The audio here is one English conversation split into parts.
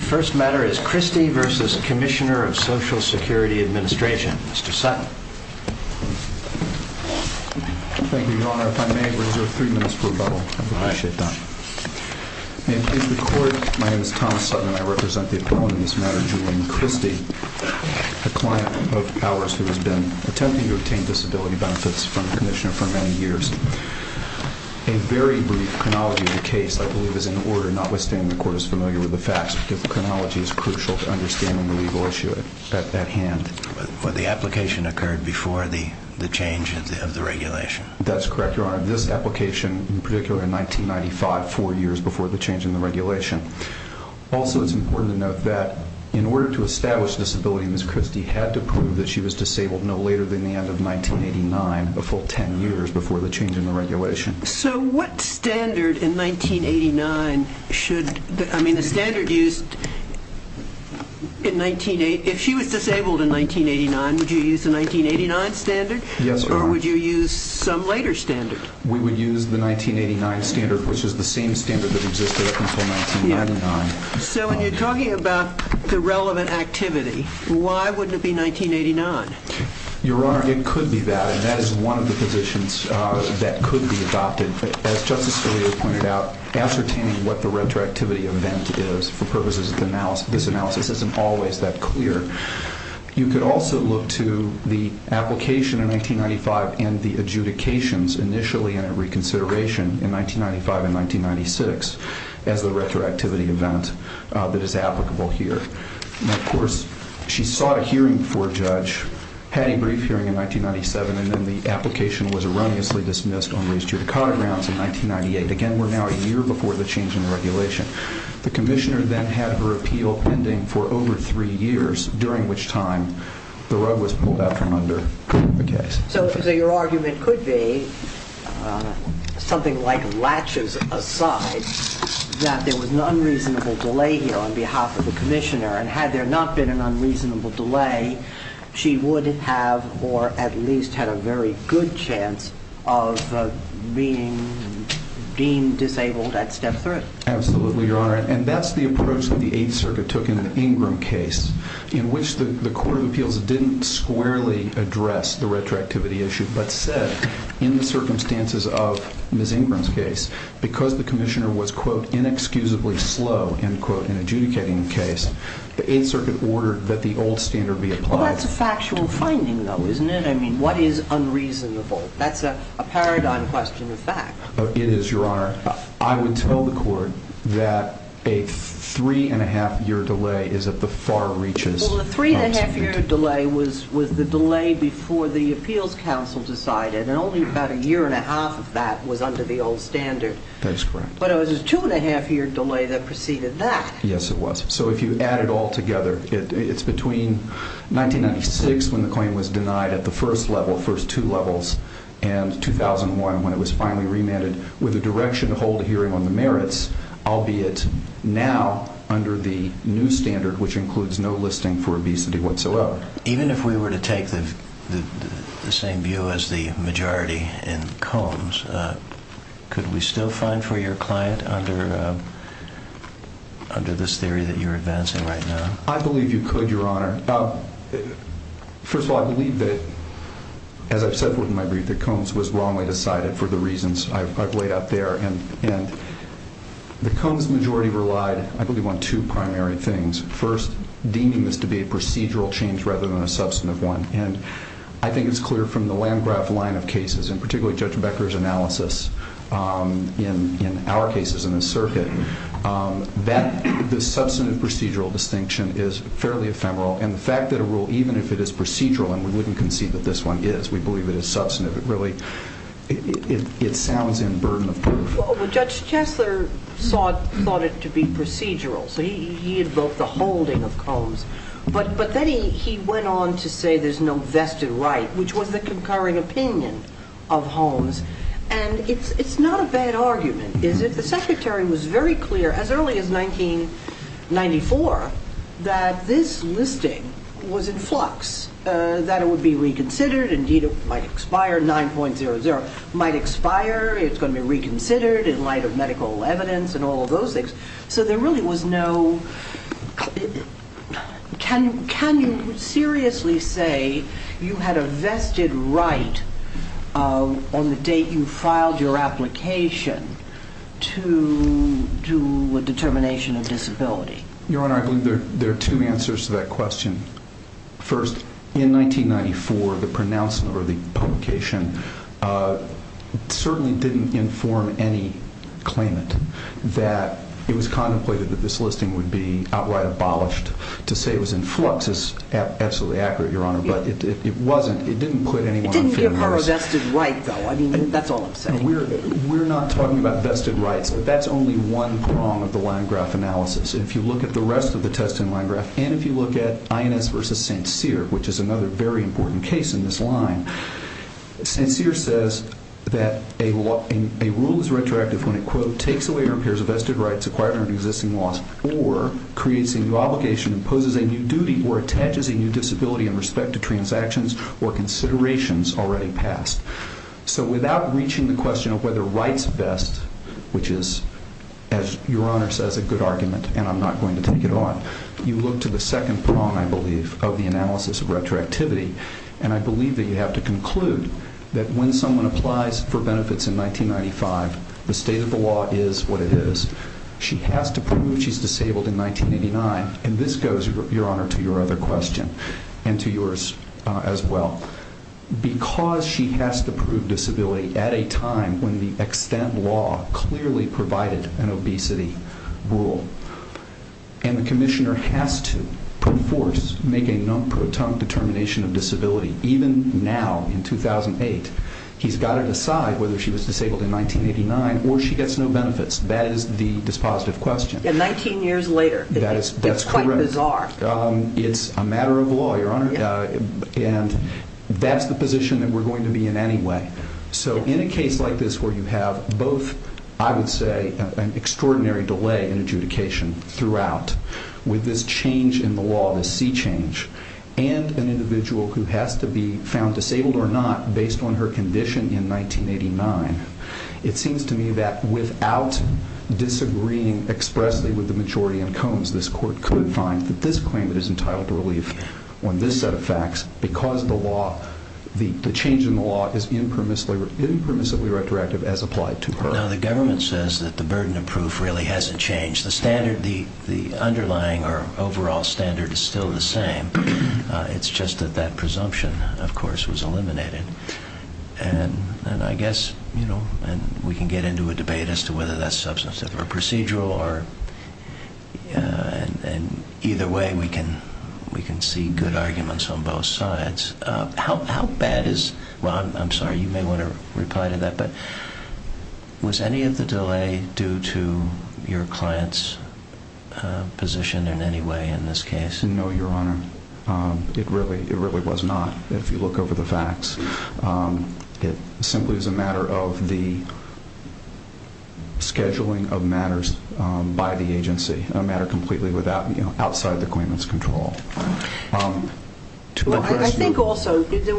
First matter is Christy v. Commissioner of Social Security Administration. Mr. Sutton. Thank you, Your Honor. If I may, I reserve three minutes for rebuttal. I appreciate that. May it please the Court, my name is Thomas Sutton and I represent the opponent in this matter, Julian Christy, a client of ours who has been attempting to obtain disability benefits from the Commissioner for many years. A very brief chronology of the case, I believe, is in order, notwithstanding the Court is familiar with the facts, the chronology is crucial to understanding the legal issue at hand. The application occurred before the change of the regulation. That's correct, Your Honor. This application, in particular, in 1995, four years before the change in the regulation. Also, it's important to note that in order to establish disability, Ms. Christy had to prove that she was disabled no later than the end of 1989, a full ten years before the change in the regulation. So what standard in 1989 should... I mean, the standard used in 19... If she was disabled in 1989, would you use the 1989 standard? Yes, Your Honor. Or would you use some later standard? We would use the 1989 standard, which was the same standard that existed up until 1999. So when you're talking about the relevant activity, why wouldn't it be 1989? Your Honor, it could be that, and that is one of the positions that could be adopted. As Justice Scalia pointed out, ascertaining what the retroactivity event is for purposes of this analysis isn't always that clear. You could also look to the application in 1995 and the adjudications initially in a reconsideration in 1995 and 1996 as the retroactivity event that is applicable here. And of course, she sought a hearing before a judge, had a brief hearing in 1997, and then the application was erroneously dismissed on raised judicata grounds in 1998. Again, we're now a year before the change in the regulation. The commissioner then had her appeal pending for over three years, during which time the rug was pulled out from under the case. So your argument could be, something like latches aside, that there was an unreasonable delay here on behalf of the commissioner. And had there not been an unreasonable delay, she would have, or at least had a very good chance, of being deemed disabled at step three. Absolutely, Your Honor. And that's the approach that the Eighth Circuit took in the Ingram case, in which the Court of Appeals didn't squarely address the retroactivity issue, but said, in the circumstances of Ms. Ingram's case, because the commissioner was, quote, inexcusably slow, end quote, in adjudicating the case, the Eighth Circuit ordered that the old standard be applied. Well, that's a factual finding, though, isn't it? I mean, what is unreasonable? That's a paradigm question of fact. It is, Your Honor. I would tell the Court that a three-and-a-half-year delay is at the far reaches. Well, the three-and-a-half-year delay was the delay before the Appeals Council decided, and only about a year-and-a-half of that was under the old standard. That is correct. But it was a two-and-a-half-year delay that preceded that. Yes, it was. So if you add it all together, it's between 1996, when the claim was denied at the first level, first two levels, and 2001, when it was finally remanded with a direction to hold a hearing on the merits, albeit now under the new standard, which includes no listing for obesity whatsoever. Even if we were to take the same view as the majority in Combs, could we still find for your client under this theory that you're advancing right now? I believe you could, Your Honor. First of all, I believe that, as I've said in my brief, that Combs was wrongly decided for the reasons I've laid out there. And the Combs majority relied, I believe, on two primary things. First, deeming this to be a procedural change rather than a substantive one. And I think it's clear from the Landgraf line of cases, and particularly Judge Becker's analysis in our cases in this circuit, that the substantive procedural distinction is fairly ephemeral. And the fact that a rule, even if it is procedural and we wouldn't concede that this one is, we believe it is substantive, really it sounds in burden of proof. Well, Judge Chastler thought it to be procedural, so he invoked the holding of Combs. But then he went on to say there's no vested right, which was the concurring opinion of Holmes. And it's not a bad argument, is it? The Secretary was very clear as early as 1994 that this listing was in flux, that it would be reconsidered, indeed it might expire, 9.00 might expire, it's going to be reconsidered in light of medical evidence and all of those things. So there really was no... Can you seriously say you had a vested right on the date you filed your application to a determination of disability? Your Honor, I believe there are two answers to that question. First, in 1994, the pronouncement or the publication certainly didn't inform any claimant that it was contemplated that this listing would be outright abolished. To say it was in flux is absolutely accurate, Your Honor, but it wasn't. It didn't put anyone on fair notice. It didn't give her a vested right, though. I mean, that's all I'm saying. We're not talking about vested rights, but that's only one prong of the line graph analysis. If you look at the rest of the test and line graph, and if you look at INS versus St. Cyr, which is another very important case in this line, St. Cyr says that a rule is retroactive when it, quote, takes away or impairs a vested right acquired under existing laws, or creates a new obligation, imposes a new duty, or attaches a new disability in respect to transactions or considerations already passed. So without reaching the question of whether rights vest, which is, as Your Honor says, a good argument, and I'm not going to take it on, you look to the second prong, I believe, of the analysis of retroactivity, and I believe that you have to conclude that when someone applies for benefits in 1995, the state of the law is what it is. She has to prove she's disabled in 1989, and this goes, Your Honor, to your other question and to yours as well. Because she has to prove disability at a time when the extent law clearly provided an obesity rule, and the commissioner has to put forth, make a non-proton determination of disability, even now in 2008, he's got to decide whether she was disabled in 1989 or she gets no benefits. That is the dispositive question. And 19 years later, it's quite bizarre. That's correct. It's a matter of law, Your Honor. And that's the position that we're going to be in anyway. So in a case like this where you have both, I would say, an extraordinary delay in adjudication throughout, with this change in the law, this C change, and an individual who has to be found disabled or not based on her condition in 1989, it seems to me that without disagreeing expressly with the majority in Combs, this Court could find that this claimant is entitled to relief on this set of facts because the change in the law is impermissibly retroactive as applied to her. Now, the government says that the burden of proof really hasn't changed. The underlying or overall standard is still the same. It's just that that presumption, of course, was eliminated. And I guess we can get into a debate as to whether that's substantive or procedural and either way we can see good arguments on both sides. How bad is, Ron, I'm sorry, you may want to reply to that, but was any of the delay due to your client's position in any way in this case? No, Your Honor. It really was not, if you look over the facts. It simply was a matter of the scheduling of matters by the agency, a matter completely outside the claimant's control. I think also it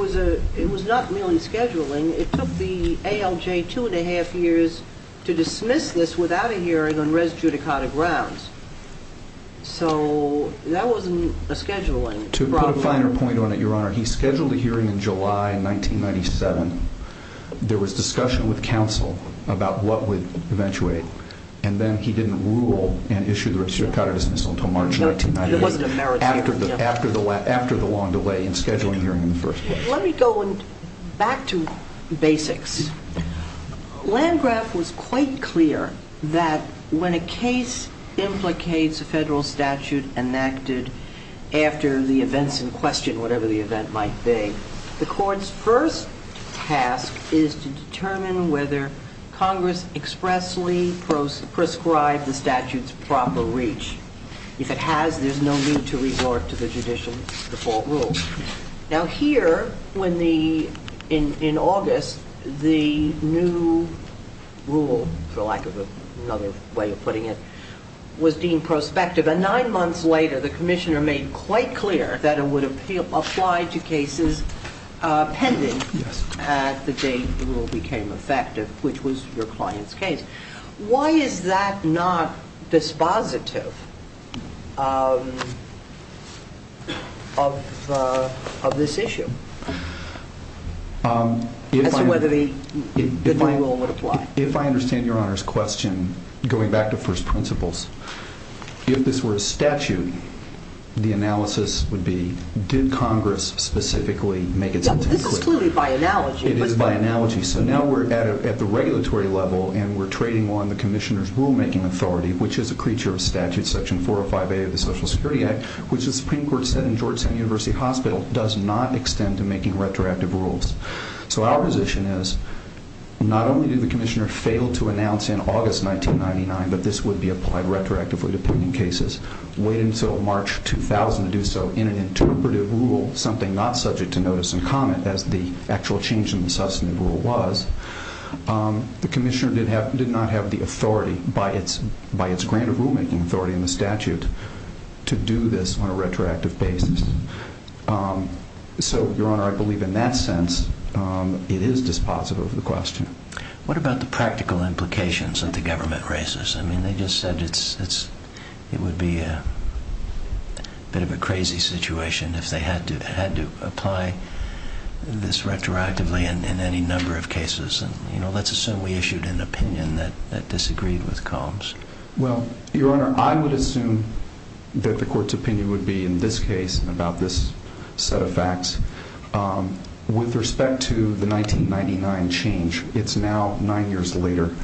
was not merely scheduling. It took the ALJ two and a half years to dismiss this without a hearing on res judicata grounds. So that wasn't a scheduling problem. To put a finer point on it, Your Honor, he scheduled a hearing in July 1997. There was discussion with counsel about what would eventuate, and then he didn't rule and issue the res judicata dismissal until March 1998, after the long delay in scheduling a hearing in the first place. Let me go back to basics. Landgraf was quite clear that when a case implicates a federal statute enacted after the events in question, whatever the event might be, the court's first task is to determine whether Congress expressly prescribed the statute's proper reach. If it has, there's no need to resort to the judicial default rule. Now here, in August, the new rule, for lack of another way of putting it, was deemed prospective, and nine months later the commissioner made quite clear that it would apply to cases pending at the date the rule became effective, which was your client's case. Why is that not dispositive of this issue, as to whether the fine rule would apply? If I understand Your Honor's question, going back to first principles, if this were a statute, the analysis would be, did Congress specifically make it specific? This is clearly by analogy. It is by analogy. So now we're at the regulatory level, and we're trading on the commissioner's rulemaking authority, which is a creature of statute, section 405A of the Social Security Act, which the Supreme Court said in Georgetown University Hospital does not extend to making retroactive rules. So our position is, not only did the commissioner fail to announce in August 1999 that this would be applied retroactively to pending cases, wait until March 2000 to do so in an interpretive rule, something not subject to notice and comment, as the actual change in the substantive rule was, the commissioner did not have the authority by its grant of rulemaking authority in the statute to do this on a retroactive basis. So, Your Honor, I believe in that sense it is dispositive of the question. What about the practical implications that the government raises? I mean, they just said it would be a bit of a crazy situation if they had to apply this retroactively in any number of cases. Let's assume we issued an opinion that disagreed with Combs. Well, Your Honor, I would assume that the court's opinion would be, in this case, about this set of facts. With respect to the 1999 change, it's now nine years later.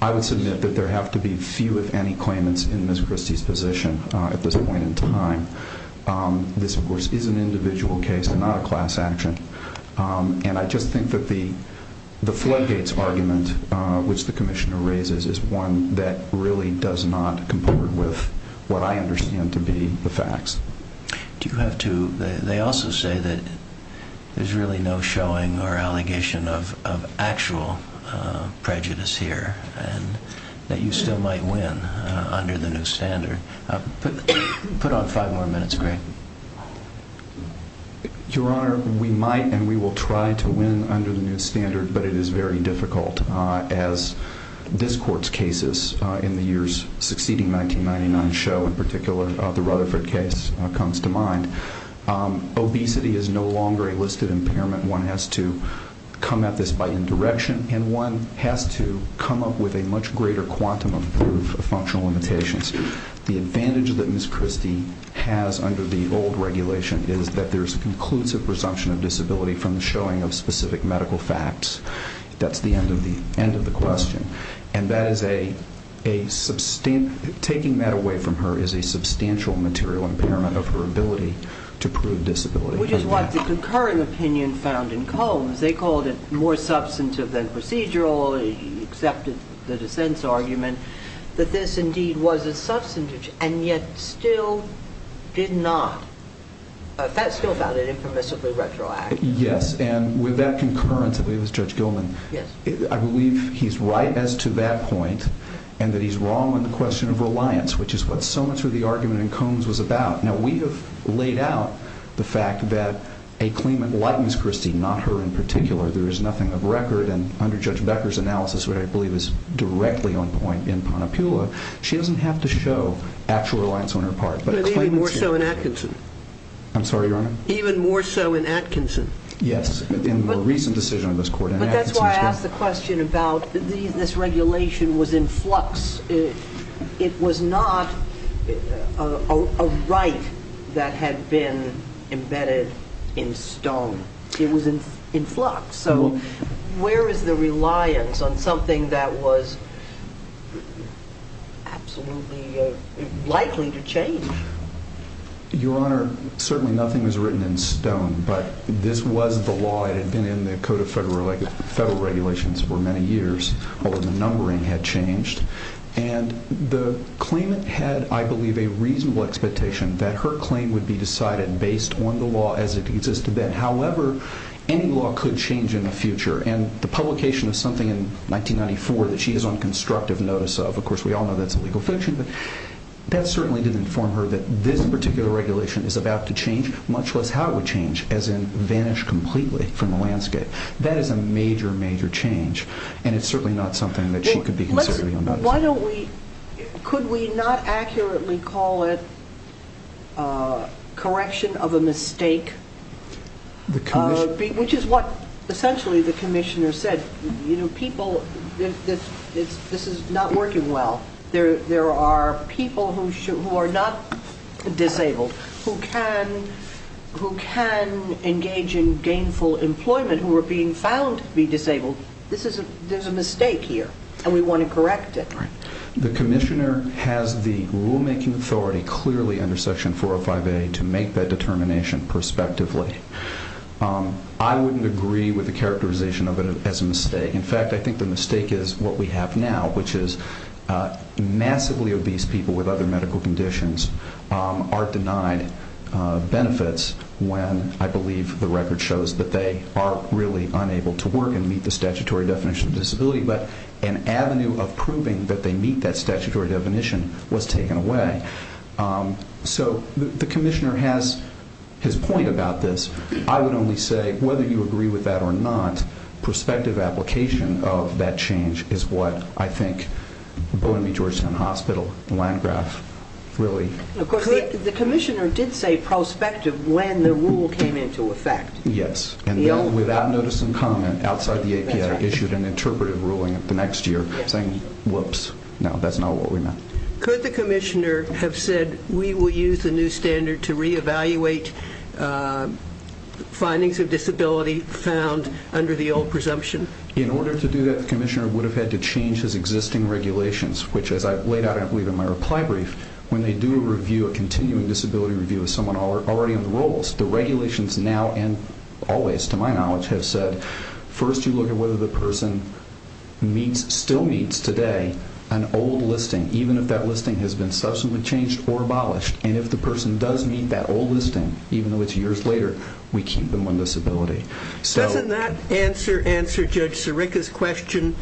I would submit that there have to be few, if any, claimants in Ms. Christie's position at this point in time. This, of course, is an individual case and not a class action. And I just think that the floodgates argument, which the commissioner raises, is one that really does not comport with what I understand to be the facts. They also say that there's really no showing or allegation of actual prejudice here, and that you still might win under the new standard. Put on five more minutes, Greg. Your Honor, we might and we will try to win under the new standard, but it is very difficult as this court's cases in the years succeeding 1999 show, in particular the Rutherford case, comes to mind. Obesity is no longer a listed impairment. One has to come at this by indirection, and one has to come up with a much greater quantum of proof of functional limitations. The advantage that Ms. Christie has under the old regulation is that there's a conclusive presumption of disability from the showing of specific medical facts. That's the end of the question. And taking that away from her is a substantial material impairment of her ability to prove disability. Which is what the concurring opinion found in Combs. They called it more substantive than procedural. They accepted the dissent's argument that this indeed was a substantive, and yet still did not, still found it impermissibly retroactive. Yes, and with that concurrence, I believe it was Judge Gilman, I believe he's right as to that point, and that he's wrong on the question of reliance, which is what so much of the argument in Combs was about. Now we have laid out the fact that a claimant likens Christie, not her in particular. There is nothing of record, and under Judge Becker's analysis, what I believe is directly on point in Ponnapula, she doesn't have to show actual reliance on her part. But even more so in Atkinson. I'm sorry, Your Honor? Even more so in Atkinson. Yes, in the recent decision of this Court in Atkinson. But that's why I asked the question about this regulation was in flux. It was not a right that had been embedded in stone. It was in flux. So where is the reliance on something that was absolutely likely to change? Your Honor, certainly nothing was written in stone, but this was the law that had been in the Code of Federal Regulations for many years, although the numbering had changed. And the claimant had, I believe, a reasonable expectation that her claim would be decided based on the law as it existed then. However, any law could change in the future. And the publication of something in 1994 that she is on constructive notice of, of course, we all know that's a legal fiction, but that certainly didn't inform her that this particular regulation is about to change, much less how it would change, as in vanish completely from the landscape. That is a major, major change, and it's certainly not something that she could be considering. Why don't we, could we not accurately call it correction of a mistake, which is what essentially the Commissioner said. You know, people, this is not working well. There are people who are not disabled who can engage in gainful employment who are being found to be disabled. There's a mistake here, and we want to correct it. The Commissioner has the rulemaking authority clearly under Section 405A to make that determination prospectively. I wouldn't agree with the characterization of it as a mistake. In fact, I think the mistake is what we have now, which is massively obese people with other medical conditions are denied benefits when I believe the record shows that they are really unable to work and meet the statutory definition of disability, but an avenue of proving that they meet that statutory definition was taken away. So the Commissioner has his point about this. I would only say, whether you agree with that or not, prospective application of that change is what I think Bowdoin v. Georgetown Hospital and Landgraf really... Of course, the Commissioner did say prospective when the rule came into effect. Yes, and without notice and comment outside the API issued an interpretive ruling the next year saying, whoops, no, that's not what we meant. Could the Commissioner have said, we will use the new standard to reevaluate findings of disability found under the old presumption? In order to do that, the Commissioner would have had to change his existing regulations, which as I laid out, I believe, in my reply brief, when they do a continuing disability review of someone already on the rolls, the regulations now and always, to my knowledge, have said, first you look at whether the person still meets today an old listing, even if that listing has been subsequently changed or abolished, and if the person does meet that old listing, even though it's years later, we keep them on disability. Doesn't that answer Judge Sirica's question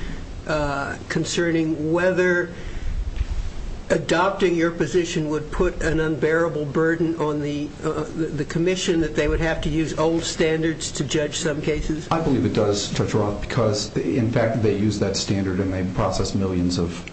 concerning whether adopting your position would put an unbearable burden on the Commission that they would have to use old standards to judge some cases? I believe it does, Judge Roth, because in fact they use that standard and they process millions of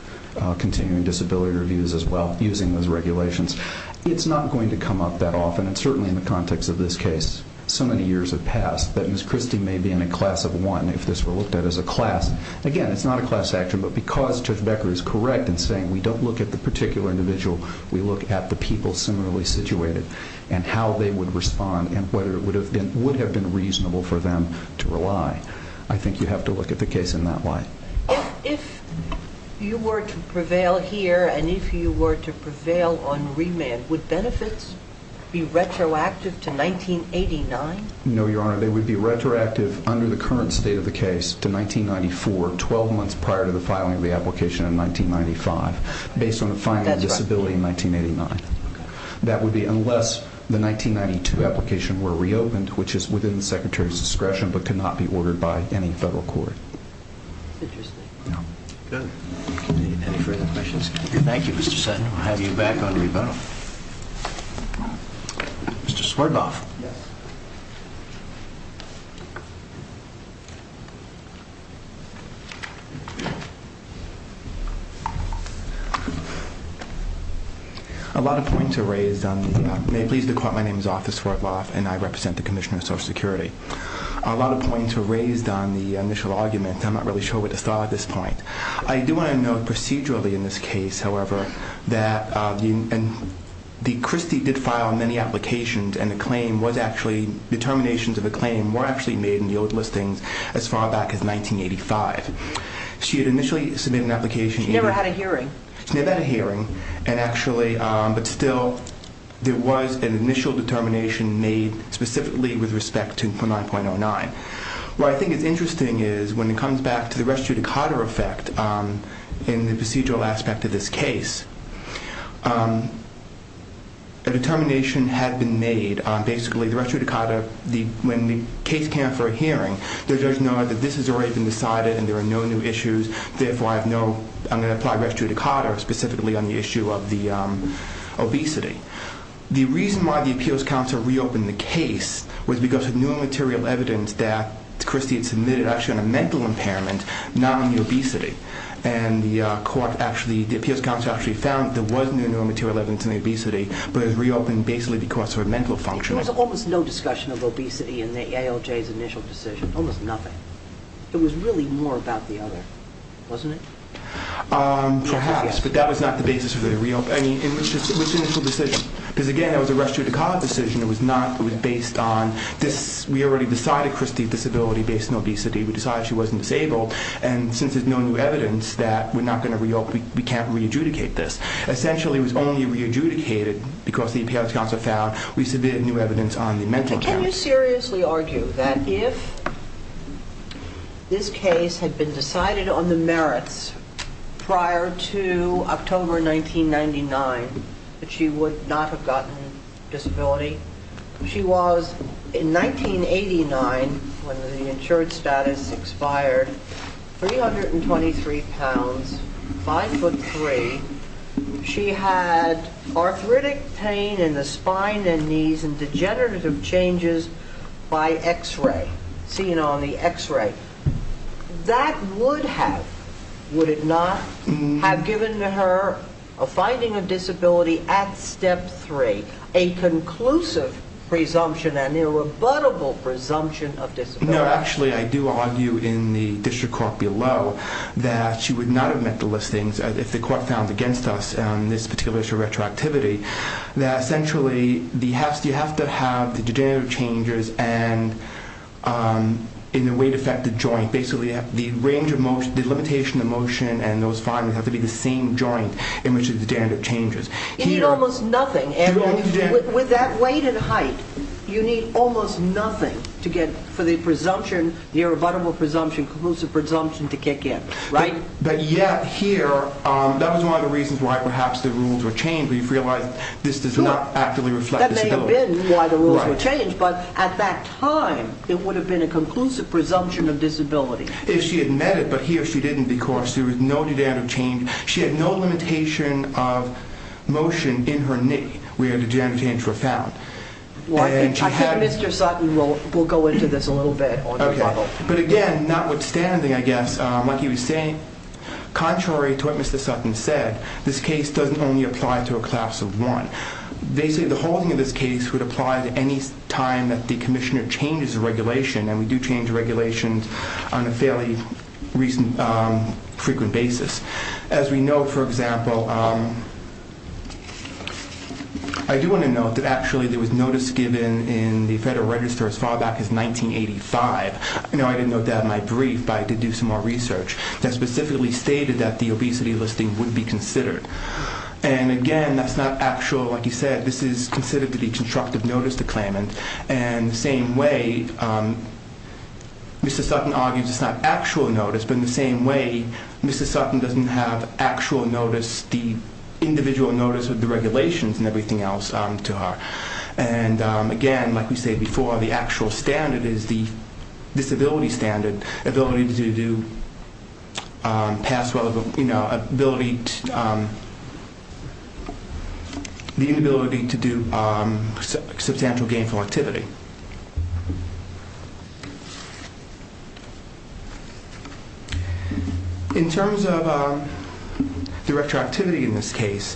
continuing disability reviews as well using those regulations. It's not going to come up that often, and certainly in the context of this case, so many years have passed that Ms. Christie may be in a class of one if this were looked at as a class. Again, it's not a class action, but because Judge Becker is correct in saying we don't look at the particular individual, we look at the people similarly situated and how they would respond and whether it would have been reasonable for them to rely. I think you have to look at the case in that light. If you were to prevail here and if you were to prevail on remand, would benefits be retroactive to 1989? No, Your Honor. They would be retroactive under the current state of the case to 1994, 12 months prior to the filing of the application in 1995, based on the filing of disability in 1989. That would be unless the 1992 application were reopened, which is within the Secretary's discretion but could not be ordered by any federal court. Interesting. Good. Any further questions? Thank you, Mr. Sutton. We'll have you back on rebuttal. Mr. Swartloff. Yes. A lot of points are raised on the—may it please the Court, my name is Arthur Swartloff and I represent the Commissioner of Social Security. A lot of points were raised on the initial argument. I'm not really sure what to start at this point. I do want to note procedurally in this case, however, that the Christie did file many applications and the claim was actually—determinations of the claim were actually made in the old listings as far back as 1985. She had initially submitted an application— She never had a hearing. She never had a hearing and actually—but still, there was an initial determination made specifically with respect to 9.09. What I think is interesting is when it comes back to the res judicata effect in the procedural aspect of this case, a determination had been made on basically the res judicata, when the case came for a hearing, the judge noted that this has already been decided and there are no new issues, therefore, I have no—I'm going to apply res judicata specifically on the issue of the obesity. The reason why the appeals counsel reopened the case was because of new material evidence that Christie had submitted actually on a mental impairment, not on the obesity. And the appeals counsel actually found there was new material evidence on the obesity, but it was reopened basically because of a mental function. There was almost no discussion of obesity in the ALJ's initial decision. Almost nothing. It was really more about the other, wasn't it? Perhaps, but that was not the basis of the reopen— I mean, in which initial decision? Because, again, it was a res judicata decision. It was not—it was based on this. We already decided Christie's disability based on obesity. We decided she wasn't disabled, and since there's no new evidence that we're not going to reopen, we can't re-adjudicate this. Essentially, it was only re-adjudicated because the appeals counsel found we submitted new evidence on the mental impairment. Can you seriously argue that if this case had been decided on the merits prior to October 1999 that she would not have gotten disability? She was, in 1989, when the insured status expired, 323 pounds, 5 foot 3. She had arthritic pain in the spine and knees and degenerative changes by X-ray, seeing on the X-ray. That would have, would it not, have given her a finding of disability at step three, a conclusive presumption, an irrebuttable presumption of disability. No, actually, I do argue in the district court below that she would not have met the listings if the court found against us this particular issue of retroactivity that, essentially, you have to have the degenerative changes and in the weight-affected joint, basically, the range of motion, the limitation of motion and those findings have to be the same joint in which the degenerative changes. You need almost nothing. With that weight and height, you need almost nothing to get for the presumption, the irrebuttable presumption, conclusive presumption to kick in, right? But yet, here, that was one of the reasons why perhaps the rules were changed. We've realized this does not actively reflect disability. It would have been why the rules were changed, but at that time, it would have been a conclusive presumption of disability. If she had met it, but here she didn't because there was no degenerative change. She had no limitation of motion in her knee where the degenerative changes were found. I think Mr. Sutton will go into this a little bit. Okay, but again, notwithstanding, I guess, like he was saying, contrary to what Mr. Sutton said, this case doesn't only apply to a class of one. Basically, the whole thing in this case would apply to any time that the commissioner changes a regulation, and we do change regulations on a fairly frequent basis. As we know, for example... I do want to note that actually there was notice given in the Federal Register as far back as 1985. I didn't know that in my brief, but I did do some more research that specifically stated that the obesity listing would be considered. Again, that's not actual. Like he said, this is considered to be constructive notice to claimant. In the same way, Mr. Sutton argues it's not actual notice, but in the same way, Mr. Sutton doesn't have actual notice, the individual notice of the regulations and everything else to her. Again, like we said before, the actual standard is the disability standard. Ability to do... The inability to do substantial gainful activity. In terms of the retroactivity in this case,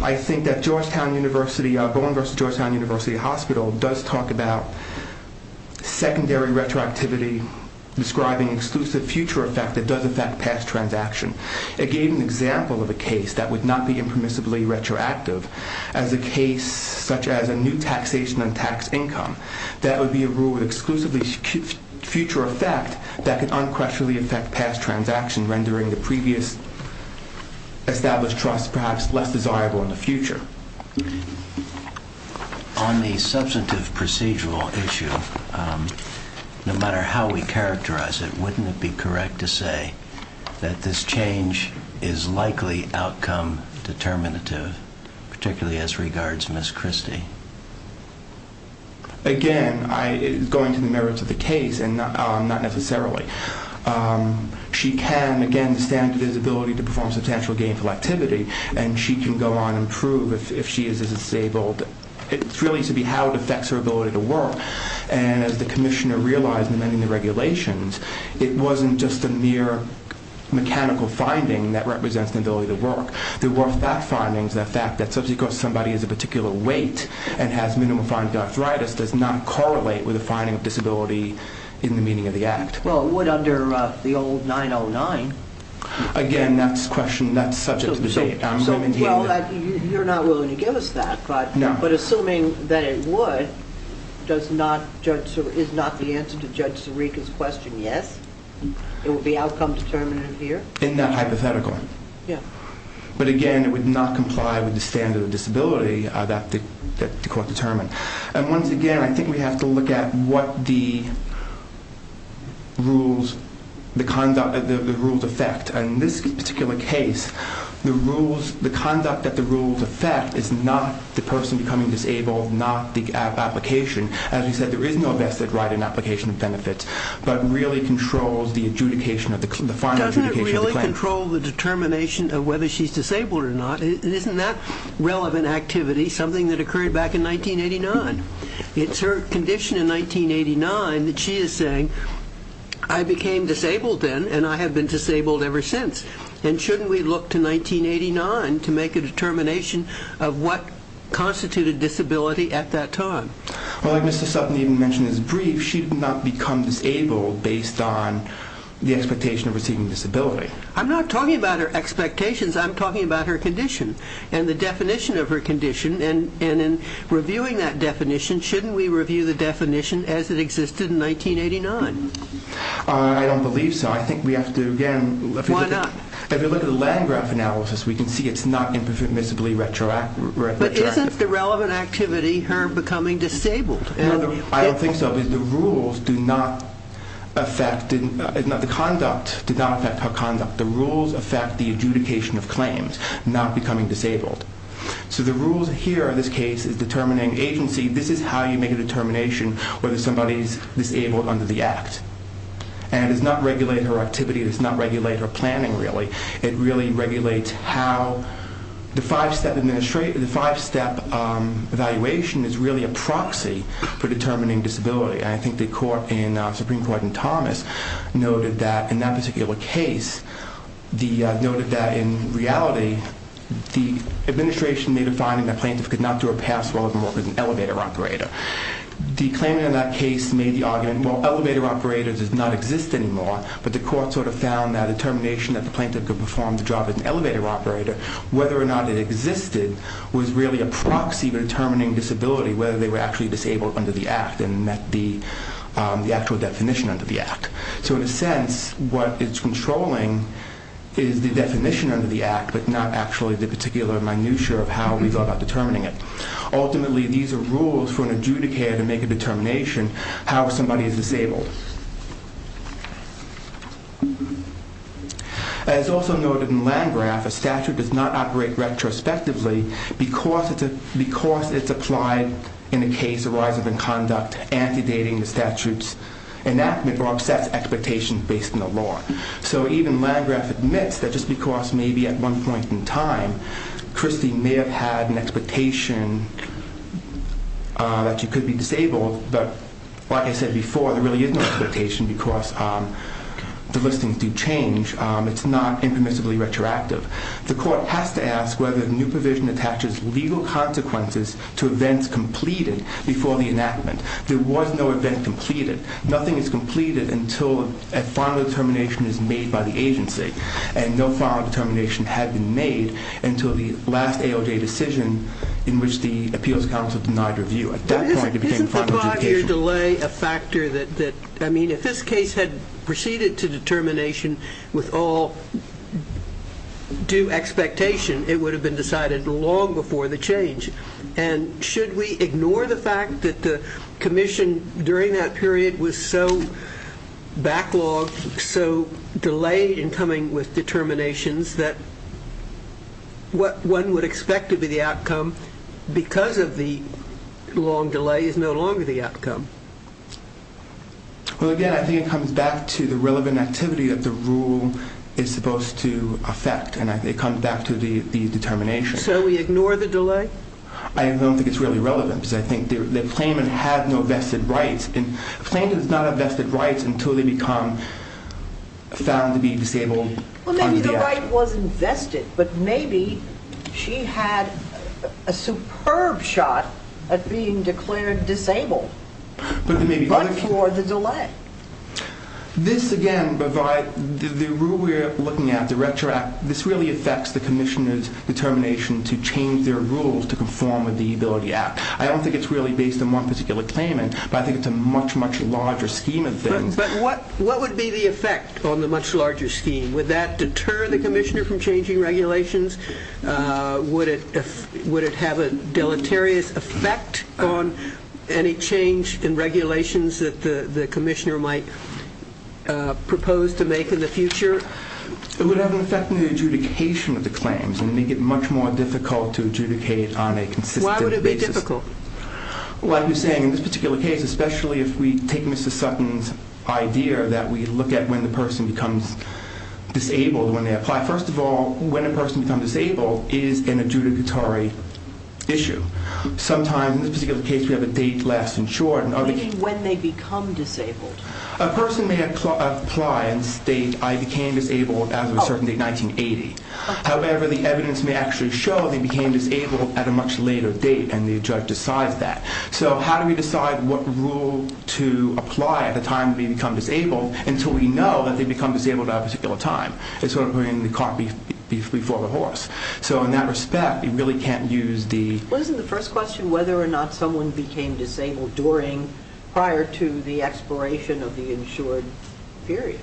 I think that Georgetown University... Bowen versus Georgetown University Hospital does talk about secondary retroactivity describing exclusive future effect that does affect past transaction. It gave an example of a case that would not be impermissibly retroactive as a case such as a new taxation on tax income that would be a rule with exclusively future effect that could unquestionably affect past transaction, rendering the previous established trust perhaps less desirable in the future. On the substantive procedural issue, no matter how we characterize it, wouldn't it be correct to say that this change is likely outcome determinative, particularly as regards Ms. Christie? Again, going to the merits of the case, and not necessarily, she can, again, the standard is ability to perform substantial gainful activity, and she can go on and prove if she is disabled. It's really to be how it affects her ability to work, and as the commissioner realized in amending the regulations, it wasn't just a mere mechanical finding that represents the ability to work. There were fact findings, the fact that somebody has a particular weight and has minimally defined arthritis does not correlate with the finding of disability in the meaning of the act. Well, it would under the old 909. Again, that's a question that's subject to debate. Well, you're not willing to give us that, but assuming that it would, is not the answer to Judge Sirica's question, yes? It would be outcome determinative here? In that hypothetical. Yeah. But again, it would not comply with the standard of disability that the court determined. And once again, I think we have to look at what the rules affect, and in this particular case, the conduct that the rules affect is not the person becoming disabled, not the application. As we said, there is no vested right in application of benefits, but really controls the final adjudication of the claim. Doesn't it really control the determination of whether she's disabled or not? Isn't that relevant activity something that occurred back in 1989? It's her condition in 1989 that she is saying, I became disabled then, and I have been disabled ever since. And shouldn't we look to 1989 to make a determination of what constituted disability at that time? Well, like Mr. Sutton even mentioned in his brief, she did not become disabled based on the expectation of receiving disability. I'm not talking about her expectations, I'm talking about her condition and the definition of her condition, and in reviewing that definition, shouldn't we review the definition as it existed in 1989? I don't believe so. Why not? If you look at the land graph analysis, we can see it's not impermissibly retroactive. But isn't the relevant activity her becoming disabled? I don't think so, but the rules do not affect her conduct. The rules affect the adjudication of claims, not becoming disabled. So the rules here in this case is determining agency, this is how you make a determination whether somebody is disabled under the Act. And it does not regulate her activity, it does not regulate her planning really. It really regulates how the five-step evaluation is really a proxy for determining disability. I think the court in Supreme Court in Thomas noted that in that particular case, noted that in reality, the administration made a finding that the plaintiff could not do a pass while working as an elevator operator. The claimant in that case made the argument well, elevator operator does not exist anymore, but the court sort of found that the determination that the plaintiff could perform the job as an elevator operator, whether or not it existed, was really a proxy for determining disability, whether they were actually disabled under the Act, and met the actual definition under the Act. So in a sense, what it's controlling is the definition under the Act, but not actually the particular minutia of how we go about determining it. Ultimately, these are rules for an adjudicator to make a determination how somebody is disabled. As also noted in Landgraf, a statute does not operate retrospectively because it's applied in a case arising from conduct anti-dating the statute's enactment or upsets expectations based on the law. So even Landgraf admits that just because maybe at one point in time Christie may have had an expectation that she could be disabled, but like I said before, there really is no expectation because the listings do change. It's not impermissibly retroactive. The court has to ask whether the new provision attaches legal consequences to events completed before the enactment. There was no event completed. Nothing is completed until a final determination is made by the agency. And no final determination had been made until the last AOJ decision in which the Appeals Council denied review. At that point, it became final adjudication. Isn't the five-year delay a factor that... I mean, if this case had proceeded to determination with all due expectation, it would have been decided long before the change. And should we ignore the fact that the commission during that period was so backlogged, so delayed in coming with determinations that what one would expect to be the outcome because of the long delay is no longer the outcome? Well, again, I think it comes back to the relevant activity that the rule is supposed to affect. And it comes back to the determination. So we ignore the delay? I don't think it's really relevant because I think the claimant had no vested rights. A claimant does not have vested rights until they become found to be disabled. Well, maybe the right wasn't vested. But maybe she had a superb shot at being declared disabled. But for the delay. This, again, provides... The rule we're looking at, the retroact, this really affects the commissioner's ability to change their rules to conform with the Ability Act. I don't think it's really based on one particular claimant, but I think it's a much, much larger scheme of things. But what would be the effect on the much larger scheme? Would that deter the commissioner from changing regulations? Would it have a deleterious effect on any change in regulations that the commissioner might propose to make in the future? It would have an effect on the adjudication of the claims and make it much more difficult to adjudicate on a consistent basis. Why would it be difficult? Like you're saying, in this particular case, especially if we take Mrs. Sutton's idea that we look at when the person becomes disabled when they apply. First of all, when a person becomes disabled is an adjudicatory issue. Sometimes in this particular case we have a date left insured. You mean when they become disabled? A person may apply and state, I became disabled as of a certain date, 1980. However, the evidence may actually show they became disabled at a much later date and the judge decides that. So how do we decide what rule to apply at the time they become disabled until we know that they become disabled at a particular time? It's sort of putting the cart before the horse. So in that respect, you really can't use the... Well, isn't the first question whether or not someone became disabled prior to the expiration of the insured period?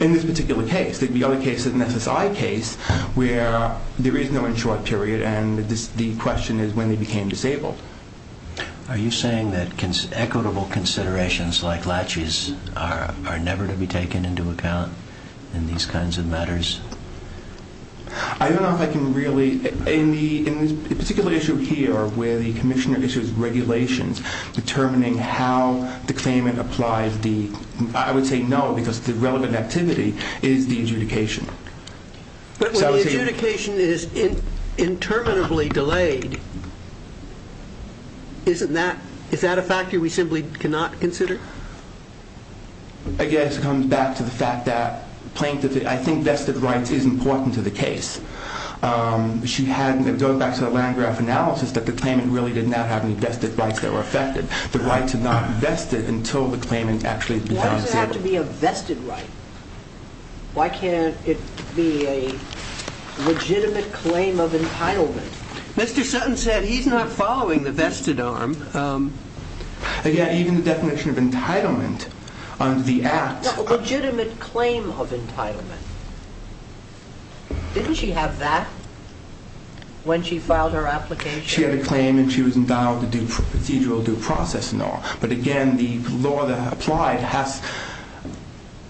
In this particular case. The other case is an SSI case where there is no insured period and the question is when they became disabled. Are you saying that equitable considerations like latches are never to be taken into account in these kinds of matters? I don't know if I can really... In this particular issue here where the commissioner issues regulations determining how the claimant applies the... I would say no because the relevant activity is the adjudication. But when the adjudication is interminably delayed, is that a factor we simply cannot consider? I guess it comes back to the fact that plaintiff... I think vested rights is important to the case. Going back to the Landgraf analysis, that the claimant really did not have any vested rights that were affected. The right to not vest it until the claimant actually... Why does it have to be a vested right? Why can't it be a legitimate claim of entitlement? Mr. Sutton said he's not following the vested arm. Again, even the definition of entitlement on the act... A legitimate claim of entitlement. Didn't she have that when she filed her application? She had a claim and she had a procedural due process law. But again, the law that applied has...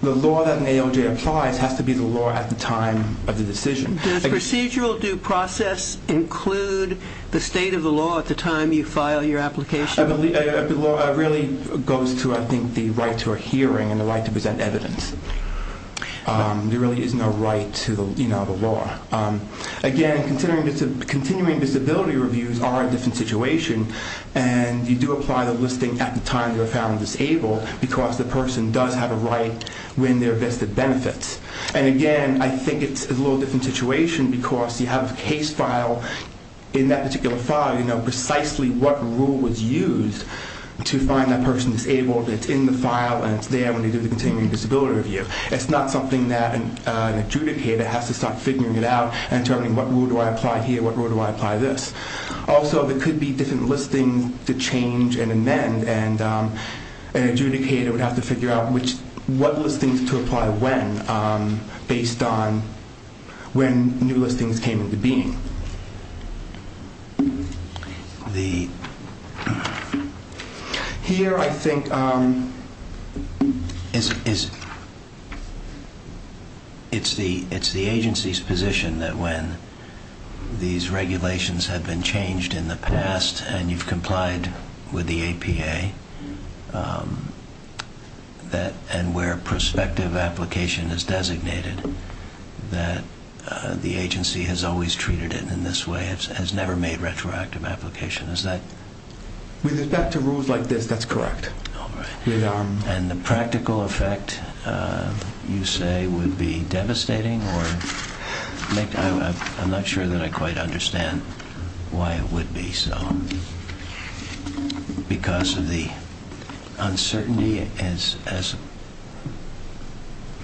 The law that an AOJ applies has to be the law at the time of the decision. Does procedural due process include the state of the law at the time you file your application? The law really goes to, I think, the right to a hearing and the right to present evidence. There really is no right to the law. Again, continuing disability reviews are a different situation. You do apply the listing at the time you're found disabled because the person does have a right when they're vested benefits. Again, I think it's a little different situation because you have a case file. In that particular file you know precisely what rule was used to find that person disabled. It's in the file and it's there when they do the continuing disability review. It's not something that an adjudicator has to start figuring it out and determining what rule do I apply here, what rule do I apply this. Also, there could be different listings to change and amend and an adjudicator would have to figure out what listings to apply when based on when new listings came into being. Here, I think it's the agency's position that when these regulations have been changed in the past and you've complied with the APA and where prospective application is designated that the agency has always treated it in this way and has never made retroactive application. Is that... With respect to rules like this, that's correct. The practical effect you say it would be devastating or I'm not sure that I quite understand why it would be so because of the uncertainty as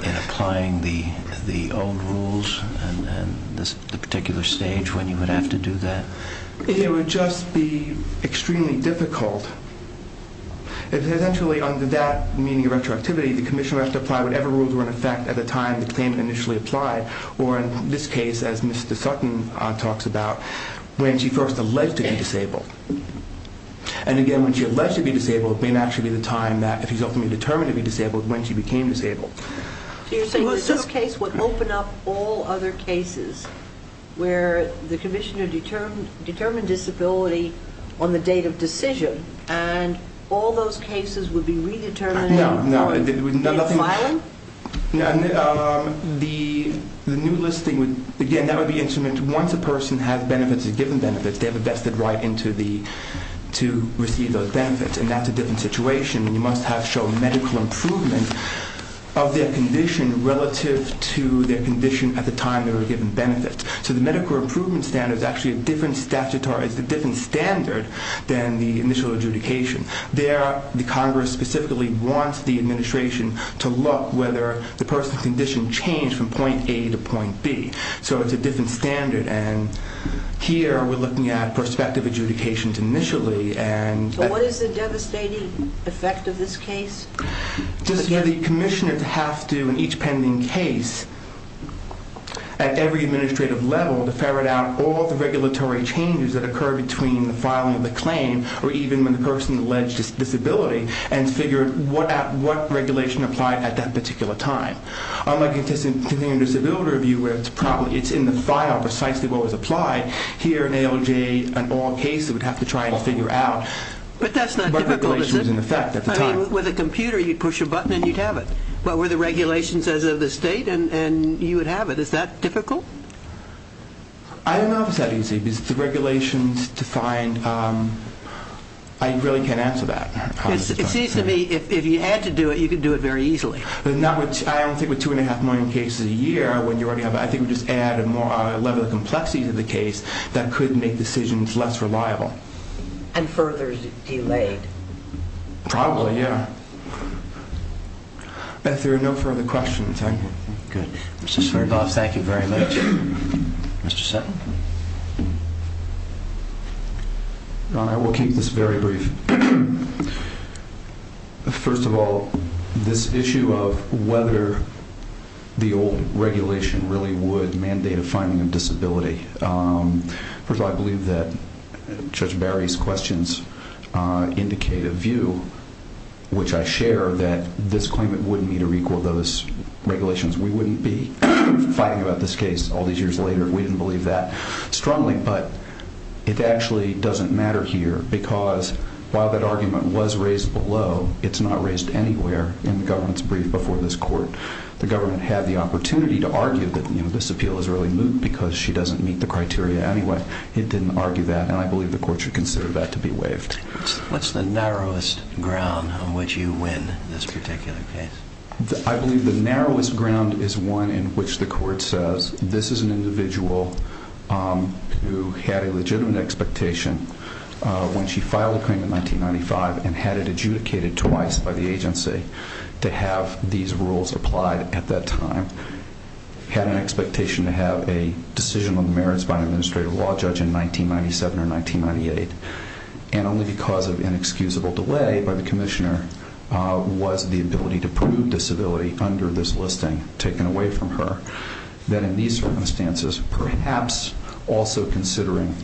in applying the old rules and the particular stage when you would have to do that? It would just be extremely difficult if essentially under that meaning of retroactivity the commissioner would have to apply whatever rules were in effect at the time the claim initially applied or in this case as Mr. Sutton talks about when she first alleged to be disabled. And again, when she alleged to be disabled it may not actually be the time that she's ultimately determined to be disabled when she became disabled. So you're saying that this case would open up all other cases where the commissioner determined disability on the date of decision and all those cases would be redetermined? No, no. The new listing, again that would be instrument once a person has benefits, is given benefits they have a vested right to receive those benefits and that's a different situation and you must have shown medical improvement of their condition relative to their condition at the time they were given benefits. So the medical improvement standard is actually a different statutory standard than the initial adjudication. There, the Congress specifically wants the administration to look whether the person's condition changed from point A to point B. So it's a different standard and here we're looking at prospective adjudications initially and... So what is the devastating effect of this case? The commissioners have to in each pending case at every administrative level to ferret out all the regulatory changes that occur between the filing of the claim or even when the person alleged disability and figure out what regulation applied at that particular time. In the disability review it's in the file precisely what was applied. Here in ALJ in all cases we'd have to try and figure out what regulation was in effect at the time. With a computer you'd push a button and you'd have it. But were the regulations as of the state and you would have it. Is that difficult? I don't know if it's that easy because the regulations defined I really can't answer that. It seems to me if you had to do it, you could do it very easily. I don't think with two and a half million cases a year when you already have I think we just add a level of complexity to the case that could make decisions less reliable. And further delayed. Probably, yeah. If there are no further questions, I'm good. Mr. Swerdloff, thank you very much. Mr. Settle. Ron, I will keep this very brief. First of all, this issue of whether the old regulation really would mandate a finding of disability. First of all, I believe that Judge Barry's questions indicate a view which I share that this claimant wouldn't need to recall those regulations. We wouldn't be fighting about this case all these years later if we didn't believe that strongly, but it actually doesn't matter here because while that argument was raised below it's not raised anywhere in the government's brief before this court. The government had the opportunity to argue that this appeal is really moot because she doesn't meet the criteria anyway. It didn't argue that and I believe the court should consider that to be waived. What's the narrowest ground on which you win this particular case? I believe the narrowest ground is one in which the court says this is an individual who had a legitimate expectation when she filed the claim in 1995 and had it adjudicated twice by the agency to have these rules applied at that time. Had an expectation to have a decision on the merits by an administrative law judge in 1997 or 1998 and only because of inexcusable delay by the commissioner was the ability to prove disability under this listing taken away from her. That in these circumstances perhaps also considering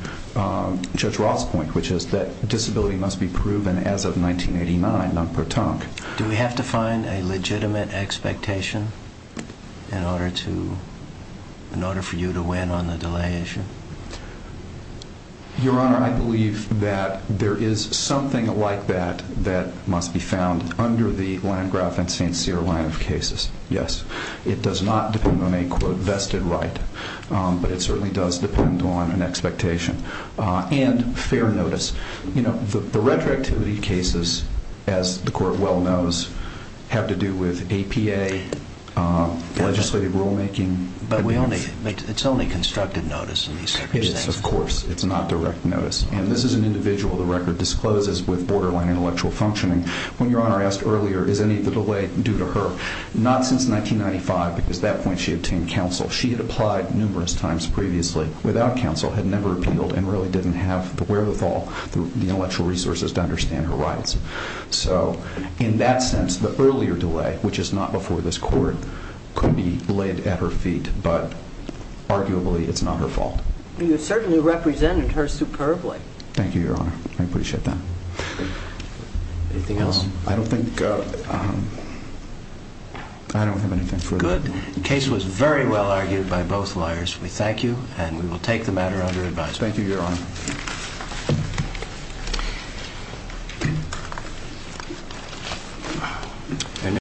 Judge Roth's point which is that disability must be proven as of 1989, non-pertinct. Do we have to find a legitimate expectation in order to in order for you to win on the delay issue? Your Honor, I believe that there is something like that that must be found under the Landgraf and St. Cyr line of cases, yes. It does not depend on a vested right, but it certainly does depend on an expectation and fair notice. The retroactivity cases as the court well knows have to do with APA, legislative rule making But it's only constructed notice in these circumstances. Of course, it's not direct notice. And this is an individual the record discloses with borderline intellectual functioning. When Your Honor asked earlier, is any of the delay due to her, not since 1995 because at that point she obtained counsel. She had applied numerous times previously without counsel, had never appealed, and really didn't have the wherewithal the intellectual resources to understand her rights. So, in that sense the earlier delay, which is not before this court, could be laid at her feet, but arguably it's not her fault. You certainly represented her superbly. Thank you, Your Honor. I appreciate that. Anything else? I don't think I don't have anything further. Good. The case was very well argued by both lawyers. We thank you, and we will take the matter under advisement. Thank you, Your Honor.